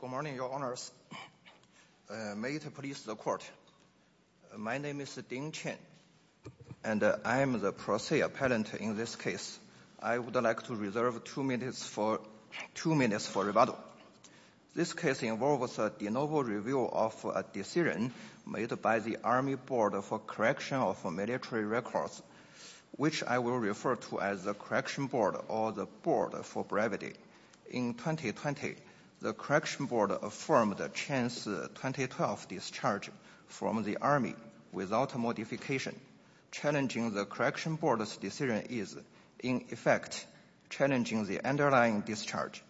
Good morning, your honors. May it please the court. My name is Ding Chen, and I am the pro se appellant in this case. I would like to reserve two minutes for two minutes for rebuttal. This case involves a de novo review of a decision made by the Army Board for Correction of Military Records, which I will refer to as the Correction Board or the Board for Brevity. In 2020, the Correction Board affirmed Chen's 2012 discharge from the Army without a modification. Challenging the Correction Board's decision is, in effect, challenging the underlying discharge.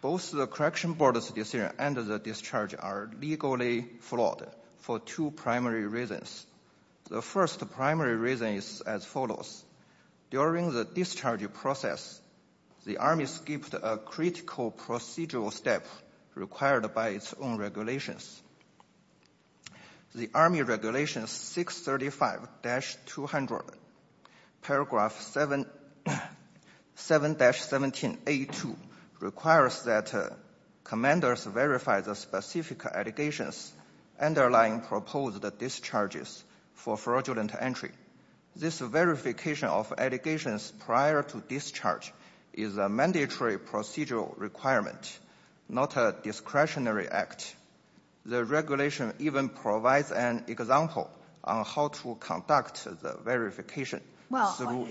Both the Correction Board's decision and the discharge are legally flawed for two primary reasons. The first primary reason is as follows. During the discharge process, the Army skipped a critical procedural step required by its own regulations. The Army Regulations 635-200, paragraph 7, 7-17a2 requires that commanders verify the specific allegations underlying proposed discharges for fraudulent entry. This verification of allegations prior to discharge is a mandatory procedural requirement, not a discretionary act. The regulation even provides an example on how to conduct the verification. Well,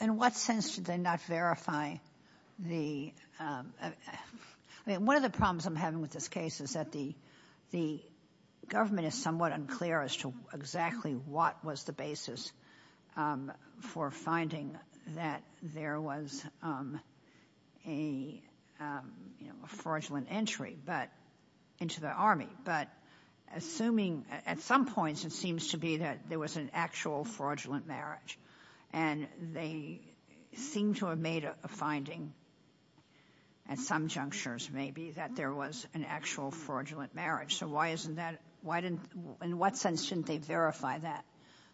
in what sense should they not verify the... I mean, one of the problems I'm having with this case is that the government is somewhat unclear as to exactly what was the basis for finding that there was a fraudulent entry, but into the Army, but assuming at some points it seems to be that there was an actual fraudulent marriage, and they seem to have made a finding at some junctures maybe that there was an actual fraudulent marriage. So why isn't that, why didn't, in what sense didn't they verify that?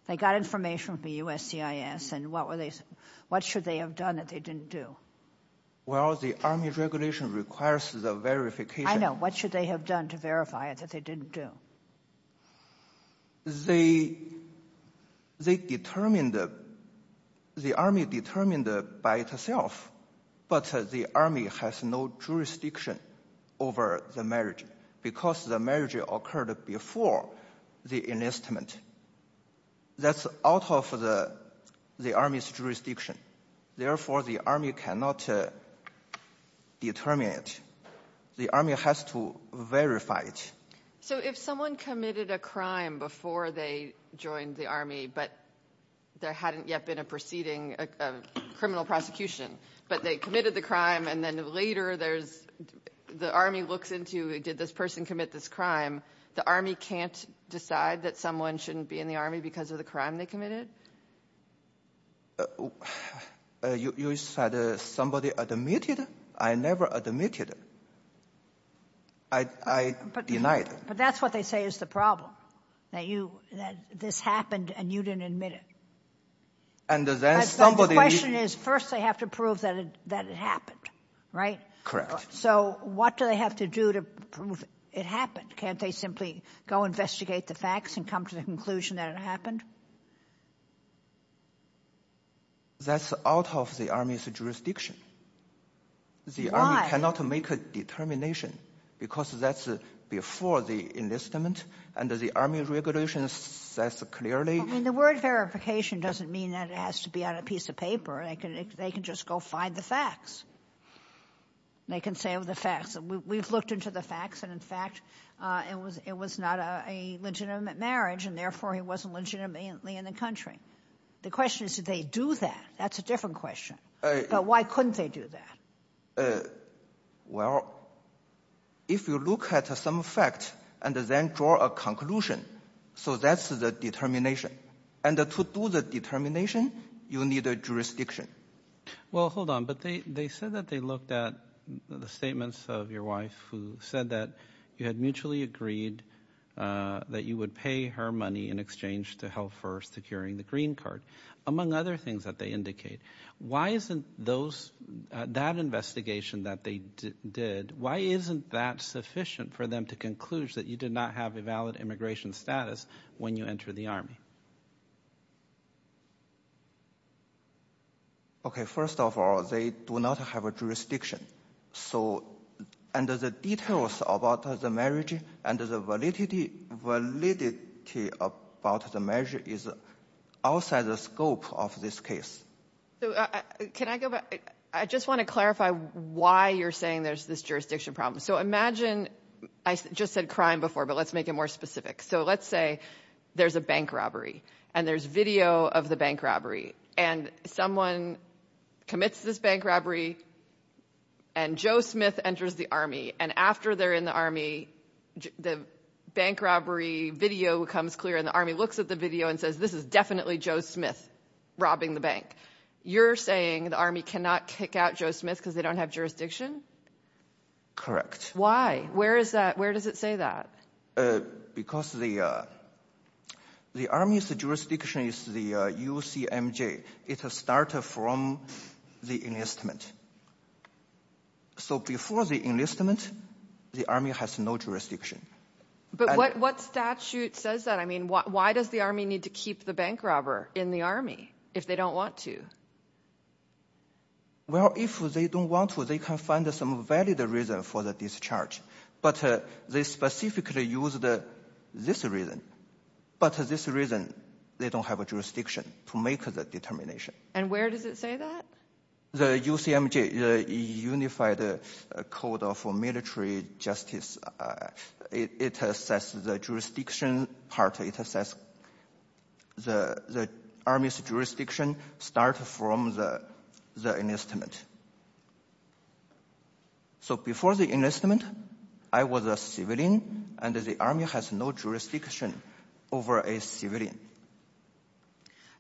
They got information from USCIS, and what were they, what should they have done that they didn't do? Well, the Army Regulation requires the verification. I know. What should they have done to verify it that they didn't do? They determined, the Army determined by itself, but the Army has no jurisdiction over the marriage, because the marriage occurred before the enlistment. That's out of the Army's jurisdiction. Therefore, the Army cannot determine it. The Army has to verify it. So if someone committed a crime before they joined the Army, but there hadn't yet been a proceeding, a criminal prosecution, but they committed the crime, and then later there's, the Army looks into, did this person commit this crime, the Army can't decide that someone shouldn't be in the Army because of the crime they committed? You said somebody admitted? I never admitted. I denied it. But that's what they say is the problem, that you, that this happened and you didn't admit it. And then somebody needs to prove it. And it happened, right? So what do they have to do to prove it happened? Can't they simply go investigate the facts and come to the conclusion that it happened? That's out of the Army's jurisdiction. Why? The Army cannot make a determination because that's before the enlistment. And the Army Regulation says clearly — I mean, the word verification doesn't mean that it has to be on a piece of paper. They can just go find the facts. They can say the facts. We've looked into the facts, and in fact, it was not a legitimate marriage, and therefore, he wasn't legitimately in the country. The question is, did they do that? That's a different question. But why couldn't they do that? Well, if you look at some facts and then draw a conclusion, so that's the determination. And to do the determination, you need a jurisdiction. Well, hold on. But they said that they looked at the statements of your wife, who said that you had mutually agreed that you would pay her money in exchange to help her securing the green card, among other things that they indicate. Why isn't that investigation that they did, why isn't that sufficient for them to conclude that you did not have a valid immigration status when you entered the Army? Okay, first of all, they do not have a jurisdiction. So, and the details about the marriage and the validity about the marriage is outside the scope of this case. So, can I go back? I just want to clarify why you're saying there's this jurisdiction problem. So, imagine, I just said crime before, but let's make it more specific. So, let's say there's a bank robbery, and there's video of the bank robbery, and someone commits this bank robbery, and Joe Smith enters the Army. And after they're in the Army, the bank robbery video becomes clear, and the Army looks at the video and says, this is definitely Joe Smith robbing the bank. You're saying the Army cannot kick out Joe Smith because they don't have jurisdiction? Correct. Why? Where does it say that? Because the Army's jurisdiction is the UCMJ. It started from the enlistment. So, before the enlistment, the Army has no jurisdiction. But what statute says that? I mean, why does the Army need to keep the bank robber in the Army if they don't want to? Well, if they don't want to, they can find some valid reason for the discharge. But they specifically used this reason. But this reason, they don't have a jurisdiction to make that determination. And where does it say that? The UCMJ, the Unified Code of Military Justice, it says the jurisdiction part, it says the Army's jurisdiction starts from the enlistment. So, before the enlistment, I was a civilian, and the Army has no jurisdiction over a civilian.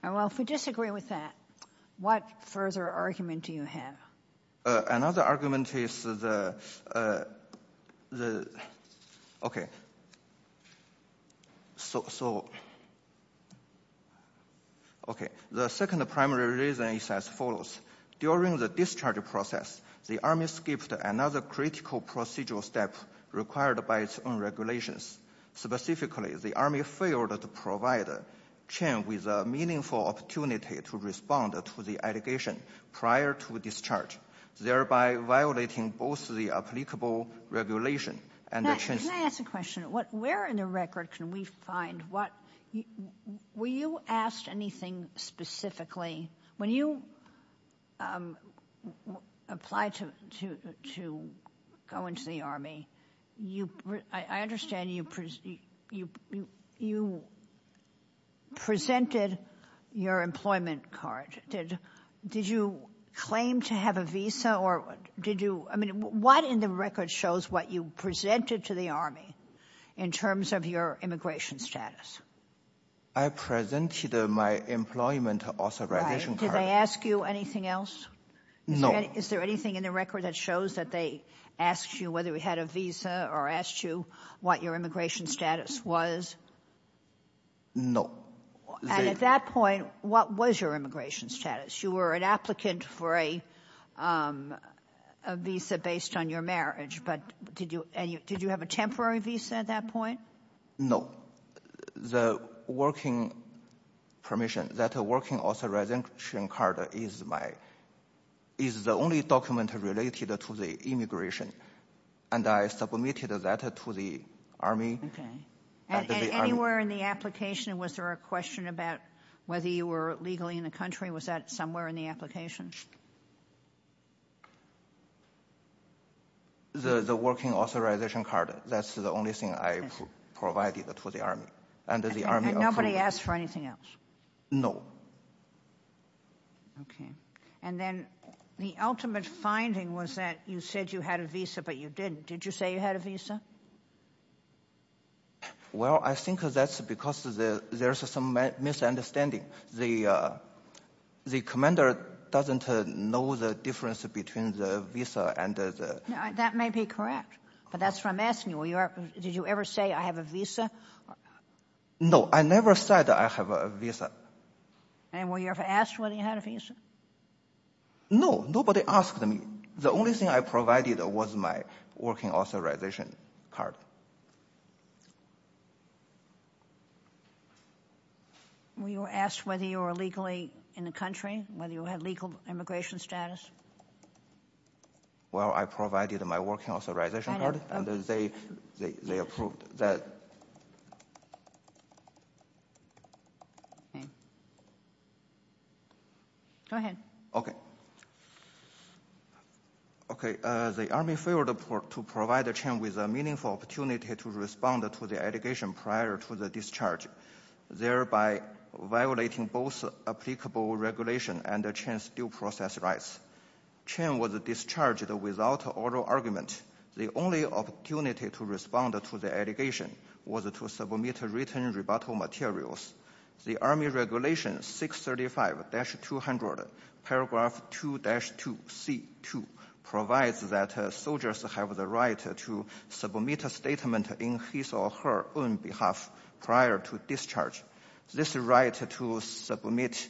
And, well, if we disagree with that, what further argument do you have? Another argument is the, okay, so, okay, the second primary reason is as follows. During the discharge process, the Army skipped another critical procedural step required by its own regulations. Specifically, the Army failed to provide Chen with a meaningful opportunity to respond to the allegation prior to discharge, thereby violating both the applicable regulation and the— Can I ask a question? Where in the record can we find what—were you asked anything specifically? When you applied to go into the Army, I understand you presented your employment card. Did you claim to have a visa, or did you—I mean, what in the record shows what you presented to the Army in terms of your immigration status? I presented my employment authorization card. Did they ask you anything else? No. Is there anything in the record that shows that they asked you whether you had a visa or asked you what your immigration status was? No. And at that point, what was your immigration status? You were an applicant for a visa based on your marriage, but did you have a temporary visa at that point? No. The working permission—that working authorization card is my—is the only document related to the immigration, and I submitted that to the Army. Okay. And anywhere in the application, was there a question about whether you were legally in the country? Was that somewhere in the application? The working authorization card, that's the only thing I provided to the Army. And nobody asked for anything else? No. Okay. And then the ultimate finding was that you said you had a visa, but you didn't. Did you say you had a visa? Well, I think that's because there's some misunderstanding. The commander doesn't know that I have a visa. He doesn't know the difference between the visa and the— That may be correct, but that's what I'm asking you. Did you ever say, I have a visa? No, I never said I have a visa. And were you ever asked whether you had a visa? No, nobody asked me. The only thing I provided was my working authorization card. Were you asked whether you were legally in the country, whether you had legal immigration status? Well, I provided my working authorization card, and they approved that. Go ahead. Okay. The Army failed to provide the chain with a meaningful opportunity to respond to the allegation prior to the discharge, thereby violating both applicable regulation and the chain's due process rights. Chain was discharged without oral argument. The only opportunity to respond to the allegation was to submit written rebuttal materials. The Army Regulation 635-200 paragraph 2-2C2 provides that soldiers have the right to submit a statement in his or her own behalf prior to discharge. This right to submit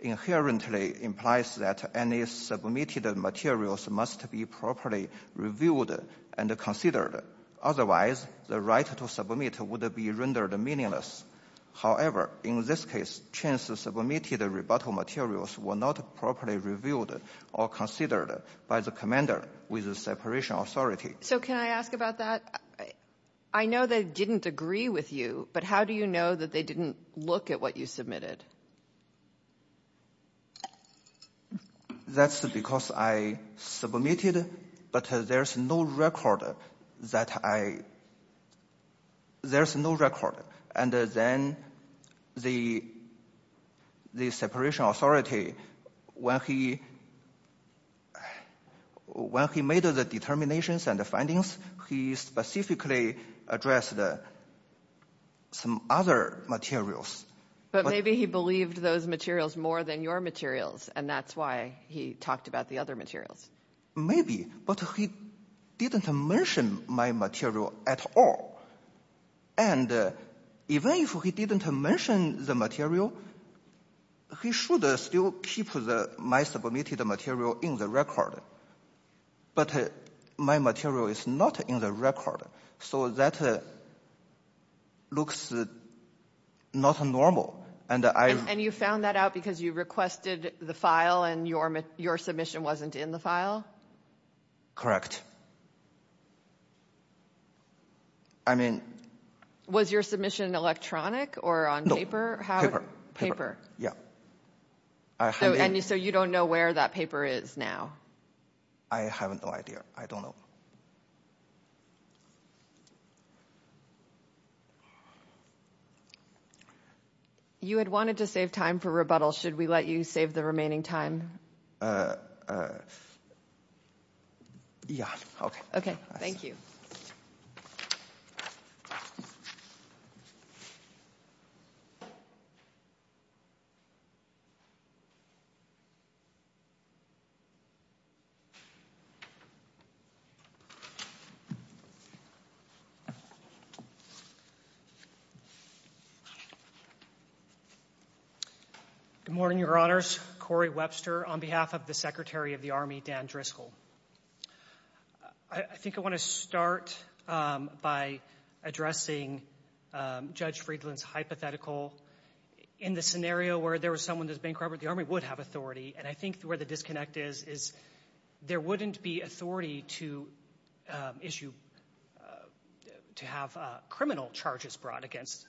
inherently implies that any submitted materials must be properly reviewed and considered. Otherwise, the right to submit would be rendered meaningless. However, in this case, chain's submitted rebuttal materials were not properly reviewed or considered by the commander with the separation authority. So can I ask about that? I know they didn't agree with you, but how do you know that they didn't look at what you submitted? That's because I submitted, but there's no record that I... There's no record. And then the separation authority, when he made the determinations and the findings, he specifically addressed some other materials. But maybe he believed those materials more than your materials, and that's why he talked about the other materials. Maybe, but he didn't mention my material at all. And even if he didn't mention the material, he should still keep my submitted material in the record. But my material is not in the record. So that looks not normal. And you found that out because you requested the file and your submission wasn't in the file? Correct. I mean... Was your submission electronic or on paper? No, paper. Paper? Yeah. And so you don't know where that paper is now? I have no idea. I don't know. You had wanted to save time for rebuttal. Should we let you save the remaining time? Yeah. Okay. Thank you. Good morning, Your Honors. Corey Webster on behalf of the Secretary of the Army Dan Driscoll. I think I want to start by addressing Judge Friedland's hypothetical in the scenario where there was someone that was bankrupt, the Army would have authority. And I think where the disconnect is, is there wouldn't be authority to issue, to have criminal charges brought against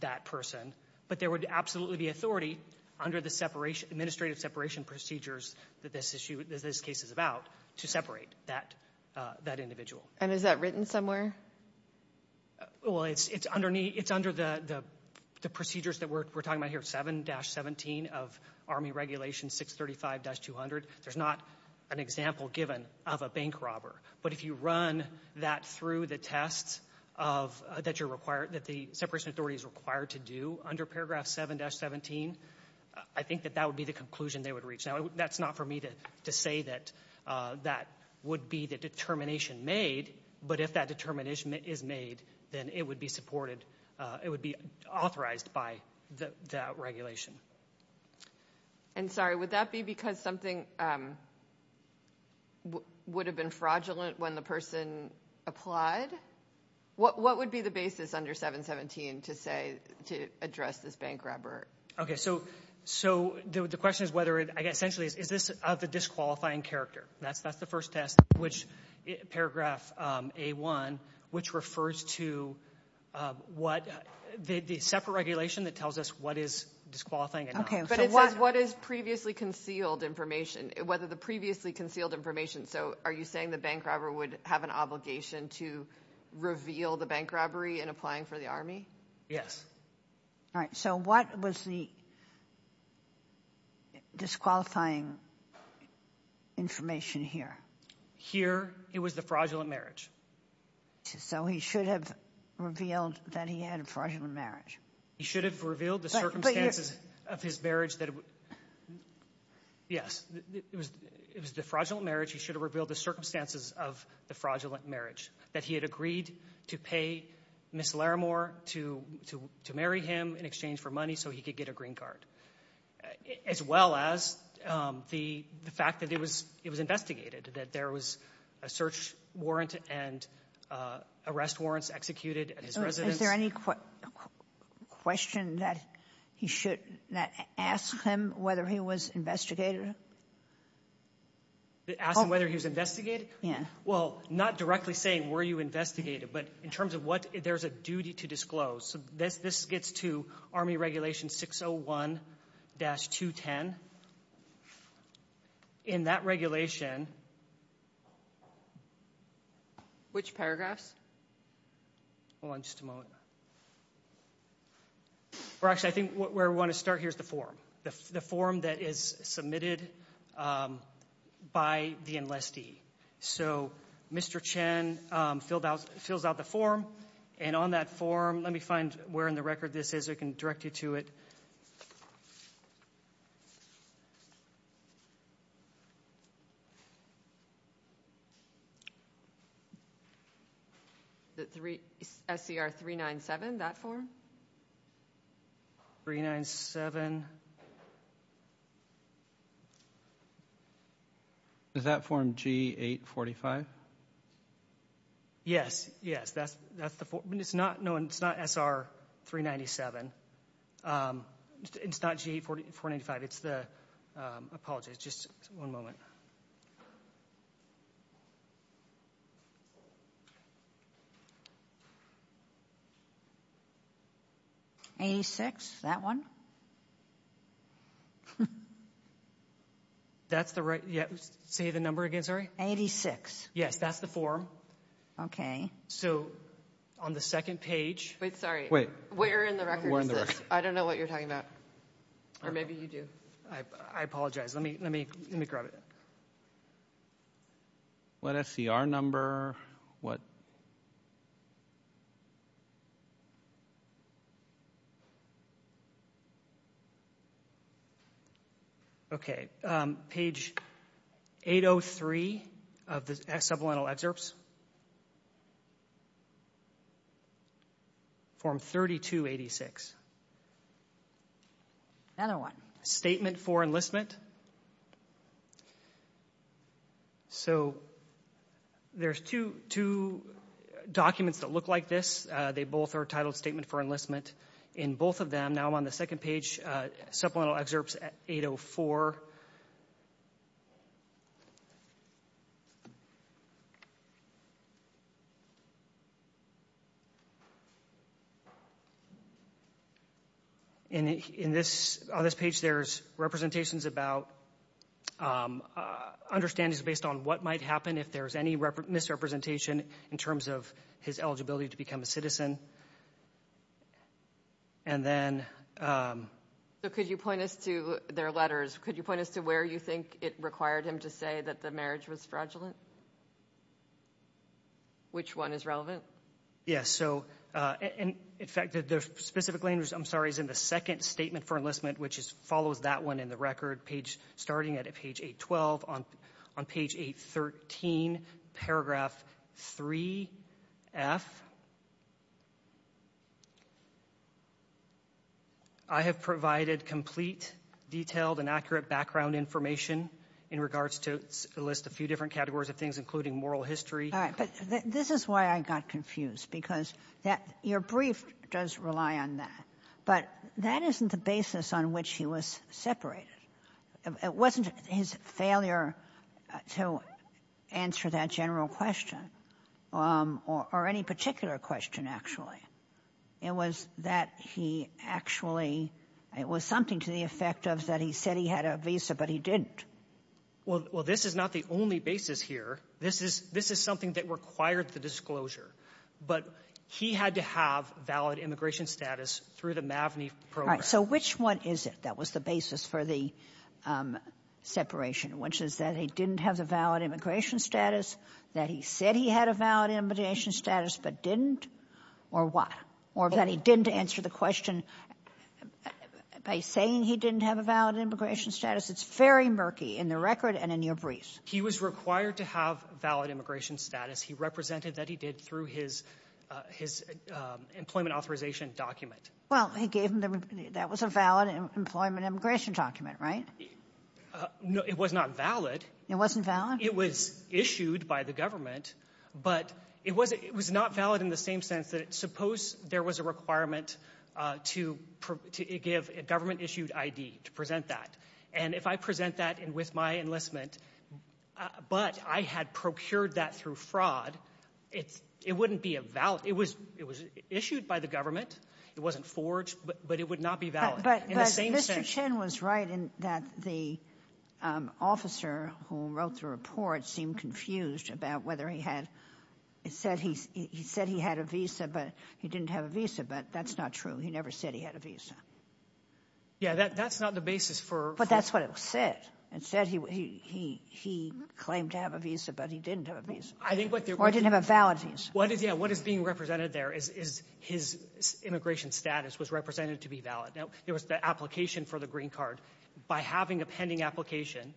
that person. But there would absolutely be authority under the separation, administrative separation procedures that this case is about to separate that individual. And is that written somewhere? Well, it's under the procedures that we're talking about here, 7-17 of Army Regulation 635-200. There's not an example given of a bank robber. But if you run that through the tests that the separation authority is required to do under paragraph 7-17, I think that that would be the conclusion they would reach. Now, that's not for me to say that that would be the determination made. But if that determination is made, then it would be supported. It would be authorized by that regulation. And sorry, would that be because something would have been fraudulent when the person applied? What would be the basis under 7-17 to say, to address this bank robber? Okay, so the question is whether, essentially, is this of the disqualifying character? That's the first test, which paragraph A-1, which refers to what the separate regulation that tells us what is disqualifying and not. But it says what is previously concealed information, whether the previously concealed information. So are you saying the bank robber would have an obligation to reveal the bank robbery in applying for the Army? Yes. All right, so what was the disqualifying information here? Here, it was the fraudulent marriage. So he should have revealed that he had a fraudulent marriage. He should have revealed the circumstances of his marriage that it would... Yes, it was the fraudulent marriage. He should have revealed the circumstances of the fraudulent marriage, that he had agreed to pay Ms. Larimore to marry him in exchange for money so he could get a green card, as well as the fact that it was investigated, that there was a search warrant and arrest warrants executed at his residence. Is there any question that he should ask him whether he was investigated? Ask him whether he was investigated? Yes. Well, not directly saying were you investigated, but in terms of what there's a duty to disclose. So this gets to Army Regulation 601-210. In that regulation... Which paragraphs? Hold on just a moment. Actually, I think where we want to start here is the form. The form that is submitted by the enlistee. So Mr. Chen fills out the form. And on that form, let me find where in the record this is. I can direct you to it. The SCR-397, that form? 397. Is that form G-845? Yes. Yes, that's the form. It's not known. It's not SR-397. It's not G-845. It's the... Apologies. Just one moment. 86, that one? That's the right... Yeah, say the number again, sorry. 86. Yes, that's the form. Okay. So on the second page... Wait, sorry. Wait. Where in the record is this? Where in the record? I don't know what you're talking about. Or maybe you do. I apologize. Let me grab it. What SCR number? What... Okay, page 803 of the supplemental excerpts. Form 3286. Another one. Statement for enlistment. So there's two documents that look like this. They both are titled Statement for Enlistment. In both of them, now I'm on the second page, supplemental excerpts 804. And in this... On this page, there's representations about... Understandings based on what might happen if there's any misrepresentation in terms of his eligibility to become a citizen. And then... So could you point us to their letters? Could you point us to where you think it required him to say that the marriage was fraudulent? Which one is relevant? So in fact, the specific language, I'm sorry, is in the second Statement for Enlistment, which follows that one in the record, starting at page 812. On page 813, paragraph 3F. I have provided complete, detailed, and accurate background information in regards to a list of a few different categories of things, including moral history. All right, but this is why I got confused, because that your brief does rely on that. But that isn't the basis on which he was separated. It wasn't his failure to answer that general question or any particular question. Actually, it was that he actually... It was something to the effect of that he said he had a visa, but he didn't. Well, this is not the only basis here. This is something that required the disclosure. But he had to have valid immigration status through the MAVNI program. So which one is it that was the basis for the separation? Which is that he didn't have the valid immigration status, that he said he had a valid immigration status, but didn't? Or what? Or that he didn't answer the question by saying he didn't have a valid immigration status? It's very murky in the record and in your briefs. He was required to have valid immigration status. He represented that he did through his employment authorization document. Well, he gave him the... That was a valid employment immigration document, right? No, it was not valid. It wasn't valid? It was issued by the government, but it was not valid in the same sense that suppose there was a requirement to give a government-issued ID to present that. And if I present that with my enlistment, but I had procured that through fraud, it wouldn't be a valid... It was issued by the government. It wasn't forged, but it would not be valid. But Mr. Chin was right in that the officer who wrote the report seemed confused about whether he said he had a visa, but he didn't have a visa. But that's not true. He never said he had a visa. Yeah, that's not the basis for... But that's what it said. It said he claimed to have a visa, but he didn't have a visa. I think what... Or he didn't have a valid visa. What is being represented there is his immigration status was represented to be valid. Now, there was the application for the green card. By having a pending application,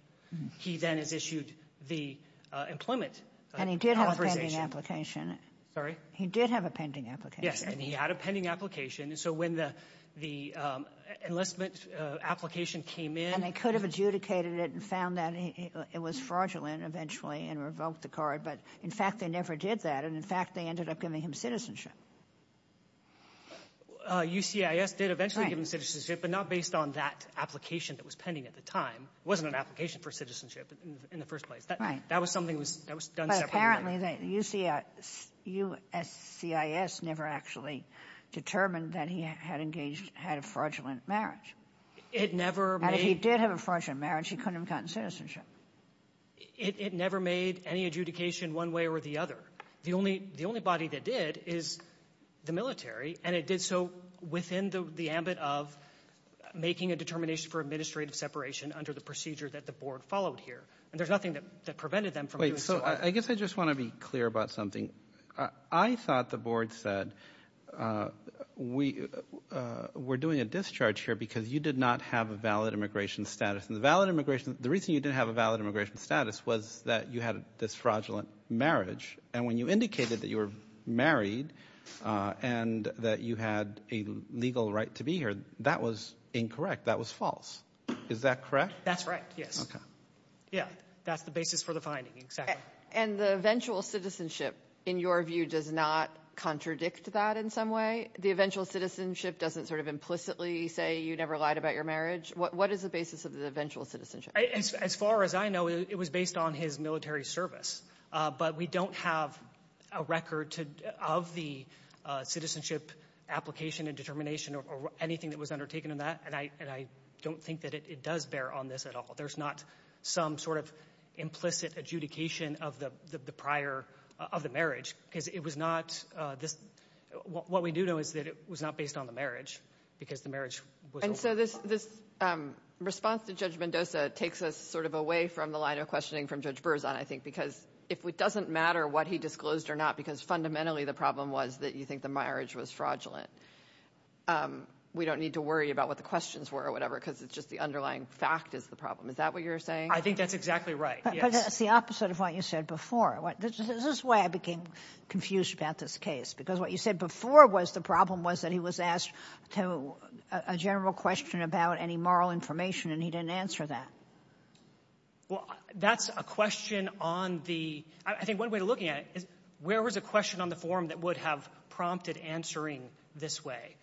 he then has issued the employment authorization. And he did have a pending application. Sorry? He did have a pending application. Yes, and he had a pending application. And so when the enlistment application came in... And they could have adjudicated it and found that it was fraudulent eventually and revoked the card. But in fact, they never did that. And in fact, they ended up giving him citizenship. USCIS did eventually give him citizenship, but not based on that application that was pending at the time. It wasn't an application for citizenship in the first place. Right. That was something that was done separately. But apparently, USCIS never actually determined that he had engaged, had a fraudulent marriage. It never made... And if he did have a fraudulent marriage, he couldn't have gotten citizenship. It never made any adjudication one way or the other. The only body that did is the military. And it did so within the ambit of making a determination for administrative separation under the procedure that the board followed here. And there's nothing that prevented them from doing so. Wait, so I guess I just want to be clear about something. I thought the board said, we're doing a discharge here because you did not have a valid immigration status. And the valid immigration... The reason you didn't have a valid immigration status was that you had this fraudulent marriage. When you indicated that you were married and that you had a legal right to be here, that was incorrect. That was false. Is that correct? That's right. Yes. Yeah. That's the basis for the finding. Exactly. And the eventual citizenship, in your view, does not contradict that in some way? The eventual citizenship doesn't sort of implicitly say you never lied about your marriage? What is the basis of the eventual citizenship? As far as I know, it was based on his military service. But we don't have a record of the citizenship application and determination or anything that was undertaken in that. And I don't think that it does bear on this at all. There's not some sort of implicit adjudication of the marriage, because it was not this... What we do know is that it was not based on the marriage, because the marriage was... And so this response to Judge Mendoza takes us sort of away from the line of questioning from Judge Berzon, I think, because it doesn't matter what he disclosed or not, because fundamentally the problem was that you think the marriage was fraudulent. We don't need to worry about what the questions were or whatever, because it's just the underlying fact is the problem. Is that what you're saying? I think that's exactly right. But that's the opposite of what you said before. This is why I became confused about this case, because what you said before was the problem was that he was asked a general question about any moral information, and he didn't answer that. Well, that's a question on the — I think one way of looking at it is, where was a question on the form that would have prompted answering this way?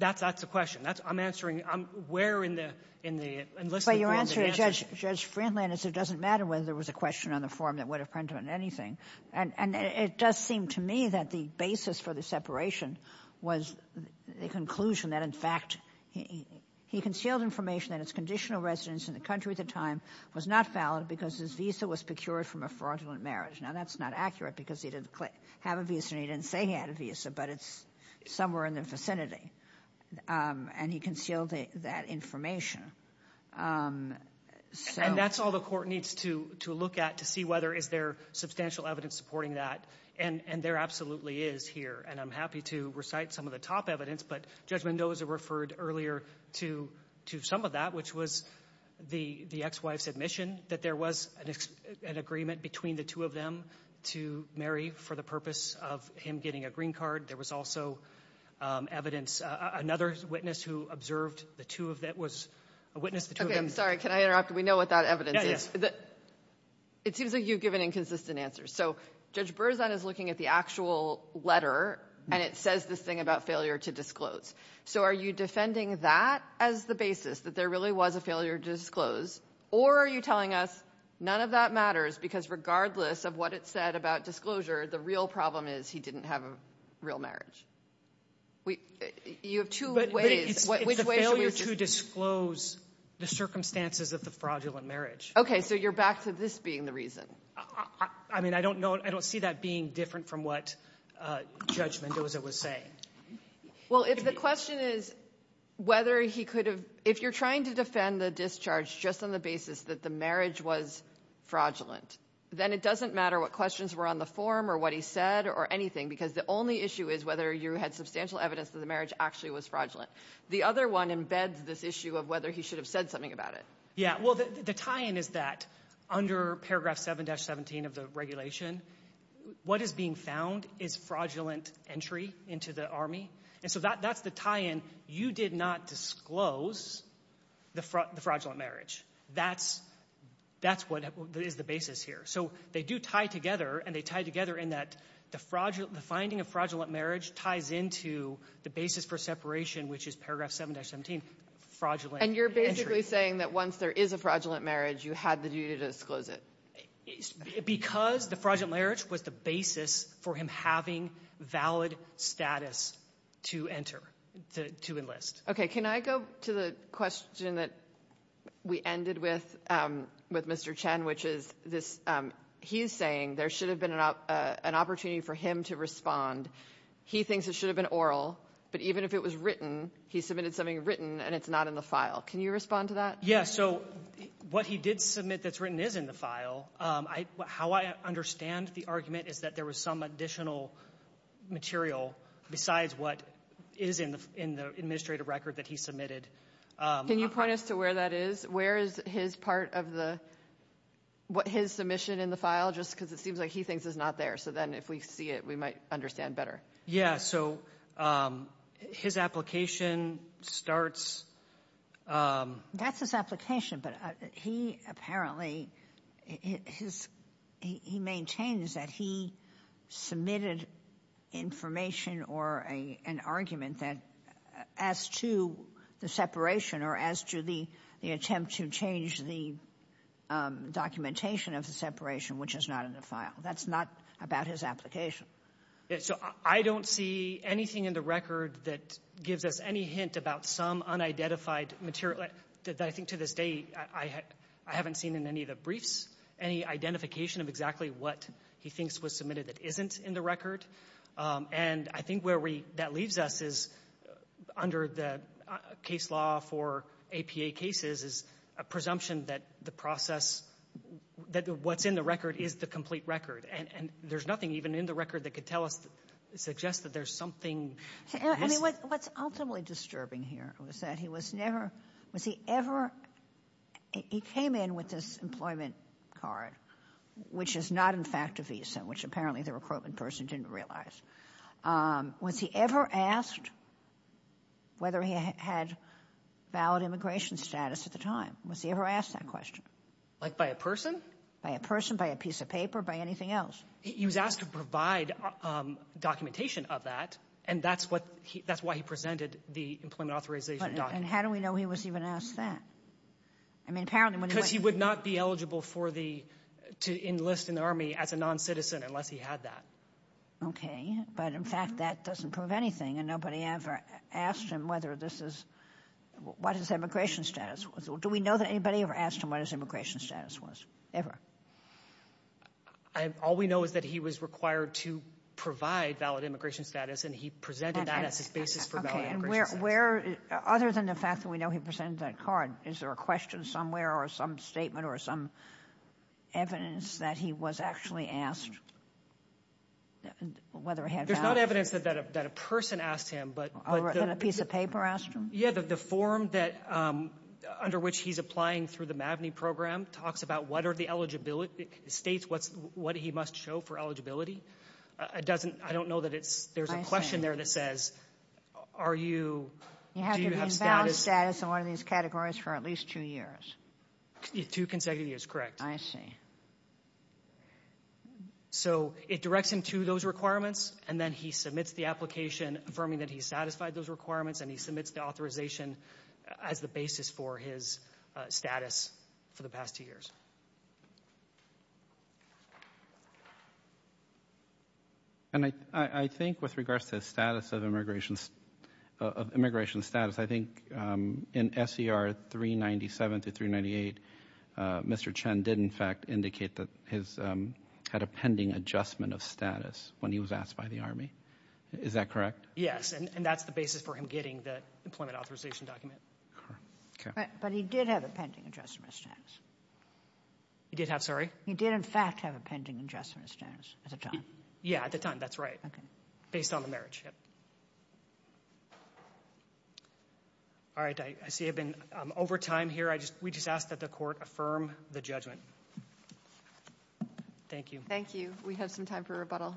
That's the question. That's — I'm answering — I'm — where in the — in the enlistment form did he answer? Well, your answer to Judge Friendland is it doesn't matter whether there was a question on the form that would have prompted anything. And it does seem to me that the basis for the separation was the conclusion that, in fact, he concealed information that it's conditional residence in the country at the time was not valid because his visa was procured from a fraudulent marriage. Now, that's not accurate, because he didn't have a visa, and he didn't say he had a visa, but it's somewhere in the vicinity. And he concealed that information. And that's all the court needs to look at to see whether is there substantial evidence supporting that. And there absolutely is here. And I'm happy to recite some of the top evidence, but Judge Mendoza referred earlier to some of that, which was the ex-wife's admission that there was an agreement between the two of them to marry for the purpose of him getting a green card. There was also evidence — another witness who observed the two of — that was a witness. Okay. I'm sorry. Can I interrupt? We know what that evidence is. Yeah, yeah. It seems like you've given inconsistent answers. So Judge Berzon is looking at the actual letter, and it says this thing about failure to disclose. So are you defending that as the basis, that there really was a failure to disclose? Or are you telling us none of that matters, because regardless of what it said about disclosure, the real problem is he didn't have a real marriage? You have two ways — It's the failure to disclose the circumstances of the fraudulent marriage. Okay. So you're back to this being the reason. I mean, I don't know — I don't see that being different from what Judge Mendoza was saying. Well, if the question is whether he could have — if you're trying to defend the discharge just on the basis that the marriage was fraudulent, then it doesn't matter what questions were on the form or what he said or anything, because the only issue is whether you had substantial evidence that the marriage actually was fraudulent. The other one embeds this issue of whether he should have said something about it. Yeah, well, the tie-in is that under paragraph 7-17 of the regulation, what is being found is fraudulent entry into the Army. And so that's the tie-in. You did not disclose the fraudulent marriage. That's what is the basis here. So they do tie together, and they tie together in that the finding of fraudulent marriage ties into the basis for separation, which is paragraph 7-17, fraudulent entry. And you're basically saying that once there is a fraudulent marriage, you had the duty to disclose it. Because the fraudulent marriage was the basis for him having valid status to enter, to enlist. Okay. Can I go to the question that we ended with, with Mr. Chen, which is this — he's saying there should have been an opportunity for him to respond. He thinks it should have been oral, but even if it was written, he submitted something written, and it's not in the file. Can you respond to that? Yeah. So what he did submit that's written is in the file. How I understand the argument is that there was some additional material besides what is in the administrative record that he submitted. Can you point us to where that is? Where is his part of the — what his submission in the file? Just because it seems like he thinks it's not there. So then if we see it, we might understand better. Yeah. So his application starts — That's his application, but he apparently — he maintains that he submitted information or an argument that — as to the separation or as to the attempt to change the documentation of the separation, which is not in the file. That's not about his application. So I don't see anything in the record that gives us any hint about some unidentified material. I think to this day, I haven't seen in any of the briefs any identification of exactly what he thinks was submitted that isn't in the record. And I think where we — that leaves us is, under the case law for APA cases, is a presumption that the process — that what's in the record is the complete record. And there's nothing even in the record that could tell us — suggest that there's something. I mean, what's ultimately disturbing here was that he was never — was he ever — he came in with this employment card, which is not, in fact, a visa, which apparently the recruitment person didn't realize. Was he ever asked whether he had valid immigration status at the time? Was he ever asked that question? Like, by a person? By a person, by a piece of paper, by anything else. He was asked to provide documentation of that, and that's what — that's why he presented the employment authorization document. And how do we know he was even asked that? I mean, apparently — Because he would not be eligible for the — to enlist in the Army as a non-citizen unless he had that. OK. But, in fact, that doesn't prove anything. And nobody ever asked him whether this is — what his immigration status was. Do we know that anybody ever asked him what his immigration status was, ever? All we know is that he was required to provide valid immigration status, and he presented that as his basis for valid immigration status. Where — other than the fact that we know he presented that card, is there a question somewhere or some statement or some evidence that he was actually asked whether he had — There's not evidence that a person asked him, but — That a piece of paper asked him? Yeah, the form that — under which he's applying through the MAVNI program talks about what are the eligibility — states what's — what he must show for eligibility. It doesn't — I don't know that it's — there's a question there that says, are you — do you have status — You have to be in valid status in one of these categories for at least two years. Two consecutive years, correct. I see. So, it directs him to those requirements, and then he submits the application, affirming that he satisfied those requirements, and he submits the authorization as the basis for his status for the past two years. And I — I think with regards to the status of immigration — of immigration status, I think in S.E.R. 397 to 398, Mr. Chen did, in fact, indicate that his — had a pending adjustment of status when he was asked by the Army. Is that correct? Yes, and that's the basis for him getting the employment authorization document. All right. Okay. But he did have a pending adjustment of status. He did have — sorry? He did, in fact, have a pending adjustment of status at the time. Yeah, at the time. That's right. Okay. Based on the marriage, yep. All right. I see I've been over time here. I just — we just ask that the Court affirm the judgment. Thank you. Thank you. We have some time for rebuttal.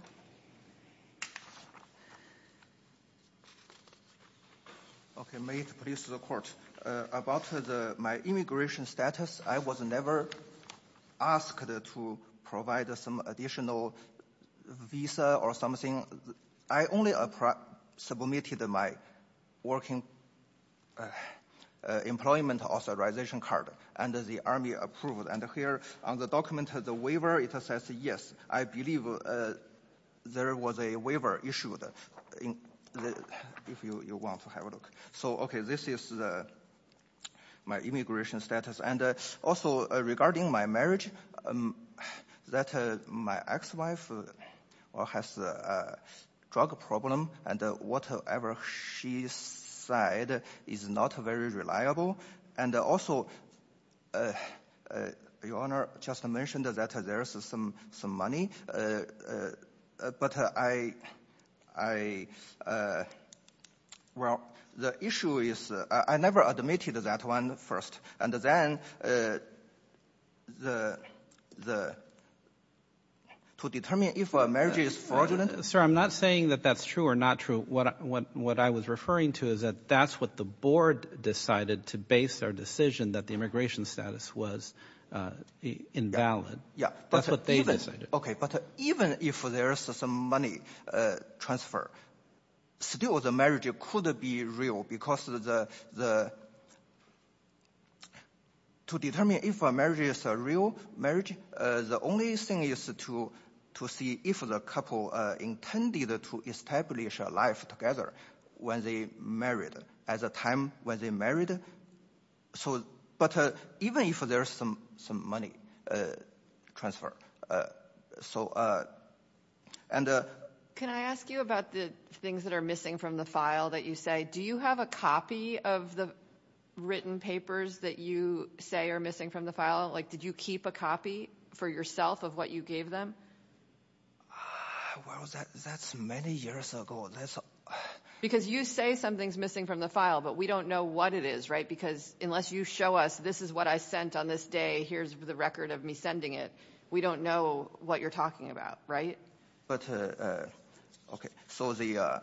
Okay. May it please the Court. About the — my immigration status, I was never asked to provide some additional visa or something. I only submitted my working employment authorization card, and the Army approved. And here on the document, the waiver, it says, yes, I believe there was a waiver issued in — if you want to have a look. So, okay, this is my immigration status. And also, regarding my marriage, that my ex-wife has a drug problem, and whatever she said is not very reliable. And also, Your Honor just mentioned that there's some money. But I — well, the issue is, I never admitted that one first. And then, to determine if a marriage is fraudulent — Sir, I'm not saying that that's true or not true. What I was referring to is that that's what the board decided to base their decision that the immigration status was invalid. Yeah. That's what they decided. Okay. But even if there's some money transfer, still, the marriage could be real, because to determine if a marriage is a real marriage, the only thing is to see if the couple intended to establish a life together when they married, at the time when they married. So, but even if there's some money transfer, so, and — Can I ask you about the things that are missing from the file that you say? Do you have a copy of the written papers that you say are missing from the file? Like, did you keep a copy for yourself of what you gave them? Well, that's many years ago. Because you say something's missing from the file, but we don't know what it is, right? Because unless you show us, this is what I sent on this day, here's the record of me sending it, we don't know what you're talking about, right? But, okay, so the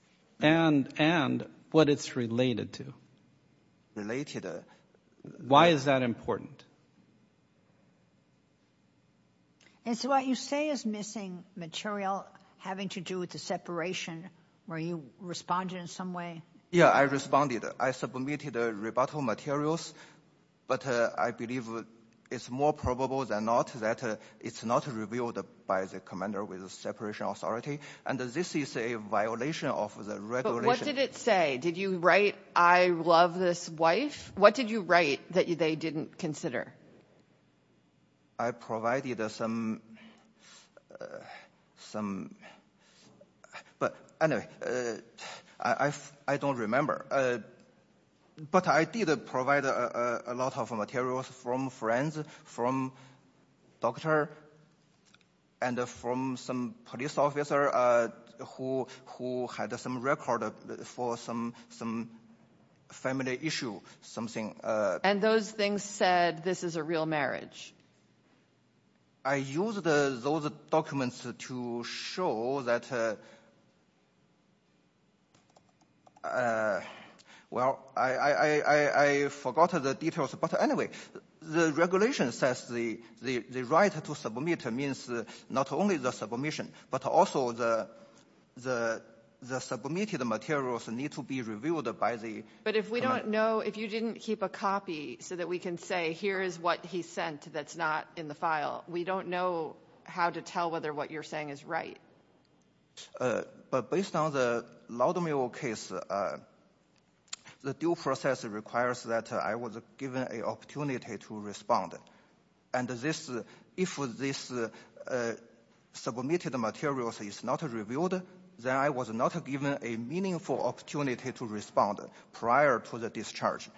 — And what it's related to. Related — Why is that important? And so what you say is missing material having to do with the separation. Were you responding in some way? Yeah, I responded. I submitted rebuttal materials, but I believe it's more probable than not that it's not revealed by the commander with the separation authority. And this is a violation of the regulation. But what did it say? Did you write, I love this wife? What did you write that they didn't consider? I provided some, but anyway, I don't remember. But I did provide a lot of materials from friends, from doctor, and from some police officer who had some record for some family issue, something — And those things said, this is a real marriage? I used those documents to show that, well, I forgot the details, but anyway, the regulation says the right to submit means not only the submission, but also the submitted materials need to be revealed by the — But if we don't know, if you didn't keep a copy so that we can say, here is what he sent that's not in the file, we don't know how to tell whether what you're saying is right. But based on the Laudamill case, the due process requires that I was given an opportunity to respond. And this, if this submitted materials is not revealed, then I was not given a meaningful opportunity to respond prior to the discharge.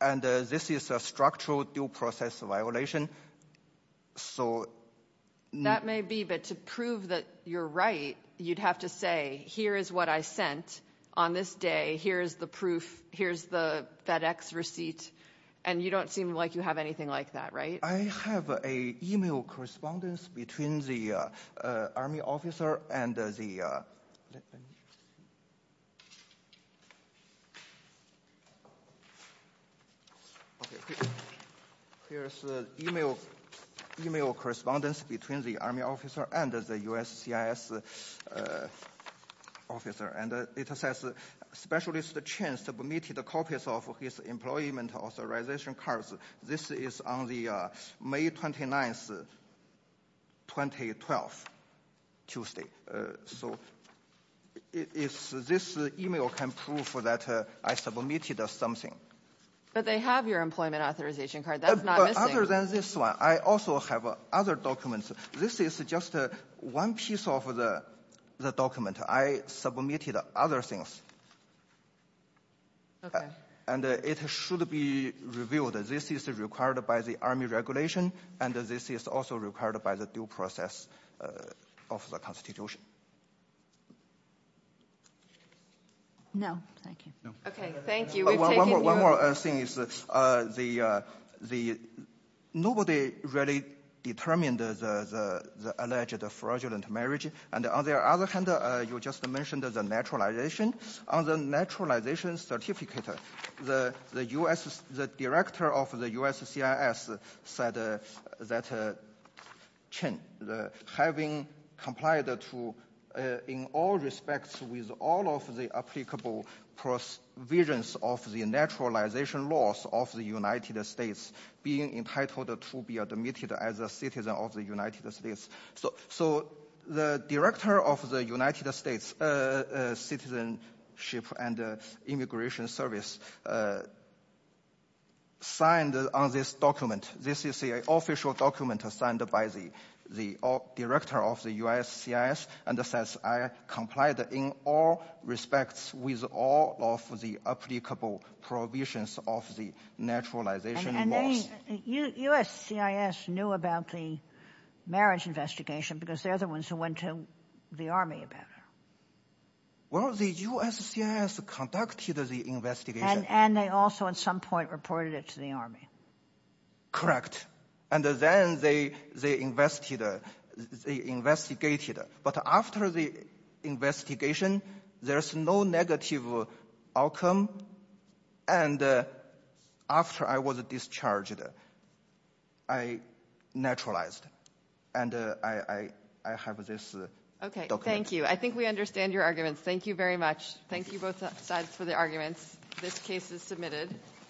And this is a structural due process violation. So — That may be, but to prove that you're right, you'd have to say, here is what I sent on this day, here's the proof, here's the FedEx receipt, and you don't seem like you have anything like that, right? I have an email correspondence between the Army officer and the — Here's the email correspondence between the Army officer and the USCIS officer, and it says specialist Chen submitted copies of his employment authorization cards. This is on the May 29, 2012, Tuesday. So this email can prove that I submitted something. But they have your employment authorization card. That's not missing. Other than this one, I also have other documents. This is just one piece of the document. I submitted other things. Okay. And it should be revealed that this is required by the Army regulation, and this is also required by the due process of the Constitution. No, thank you. No. Okay, thank you. One more thing is the — nobody really determined the alleged fraudulent marriage. And on the other hand, you just mentioned the naturalization. On the naturalization certificate, the director of the USCIS said that Chen, having complied to, in all respects, with all of the applicable provisions of the naturalization laws of the United States, being entitled to be admitted as a citizen of the United States. So the director of the United States Citizenship and Immigration Service signed on this document. This is the official document signed by the director of the USCIS, and it says, I complied in all respects with all of the applicable provisions of the naturalization laws. USCIS knew about the marriage investigation because they're the ones who went to the Army about it. Well, the USCIS conducted the investigation. And they also, at some point, reported it to the Army. Correct. And then they investigated. But after the investigation, there's no negative outcome. And after I was discharged, I naturalized. And I have this document. Okay. Thank you. I think we understand your arguments. Thank you very much. Thank you, both sides, for the arguments. This case is submitted.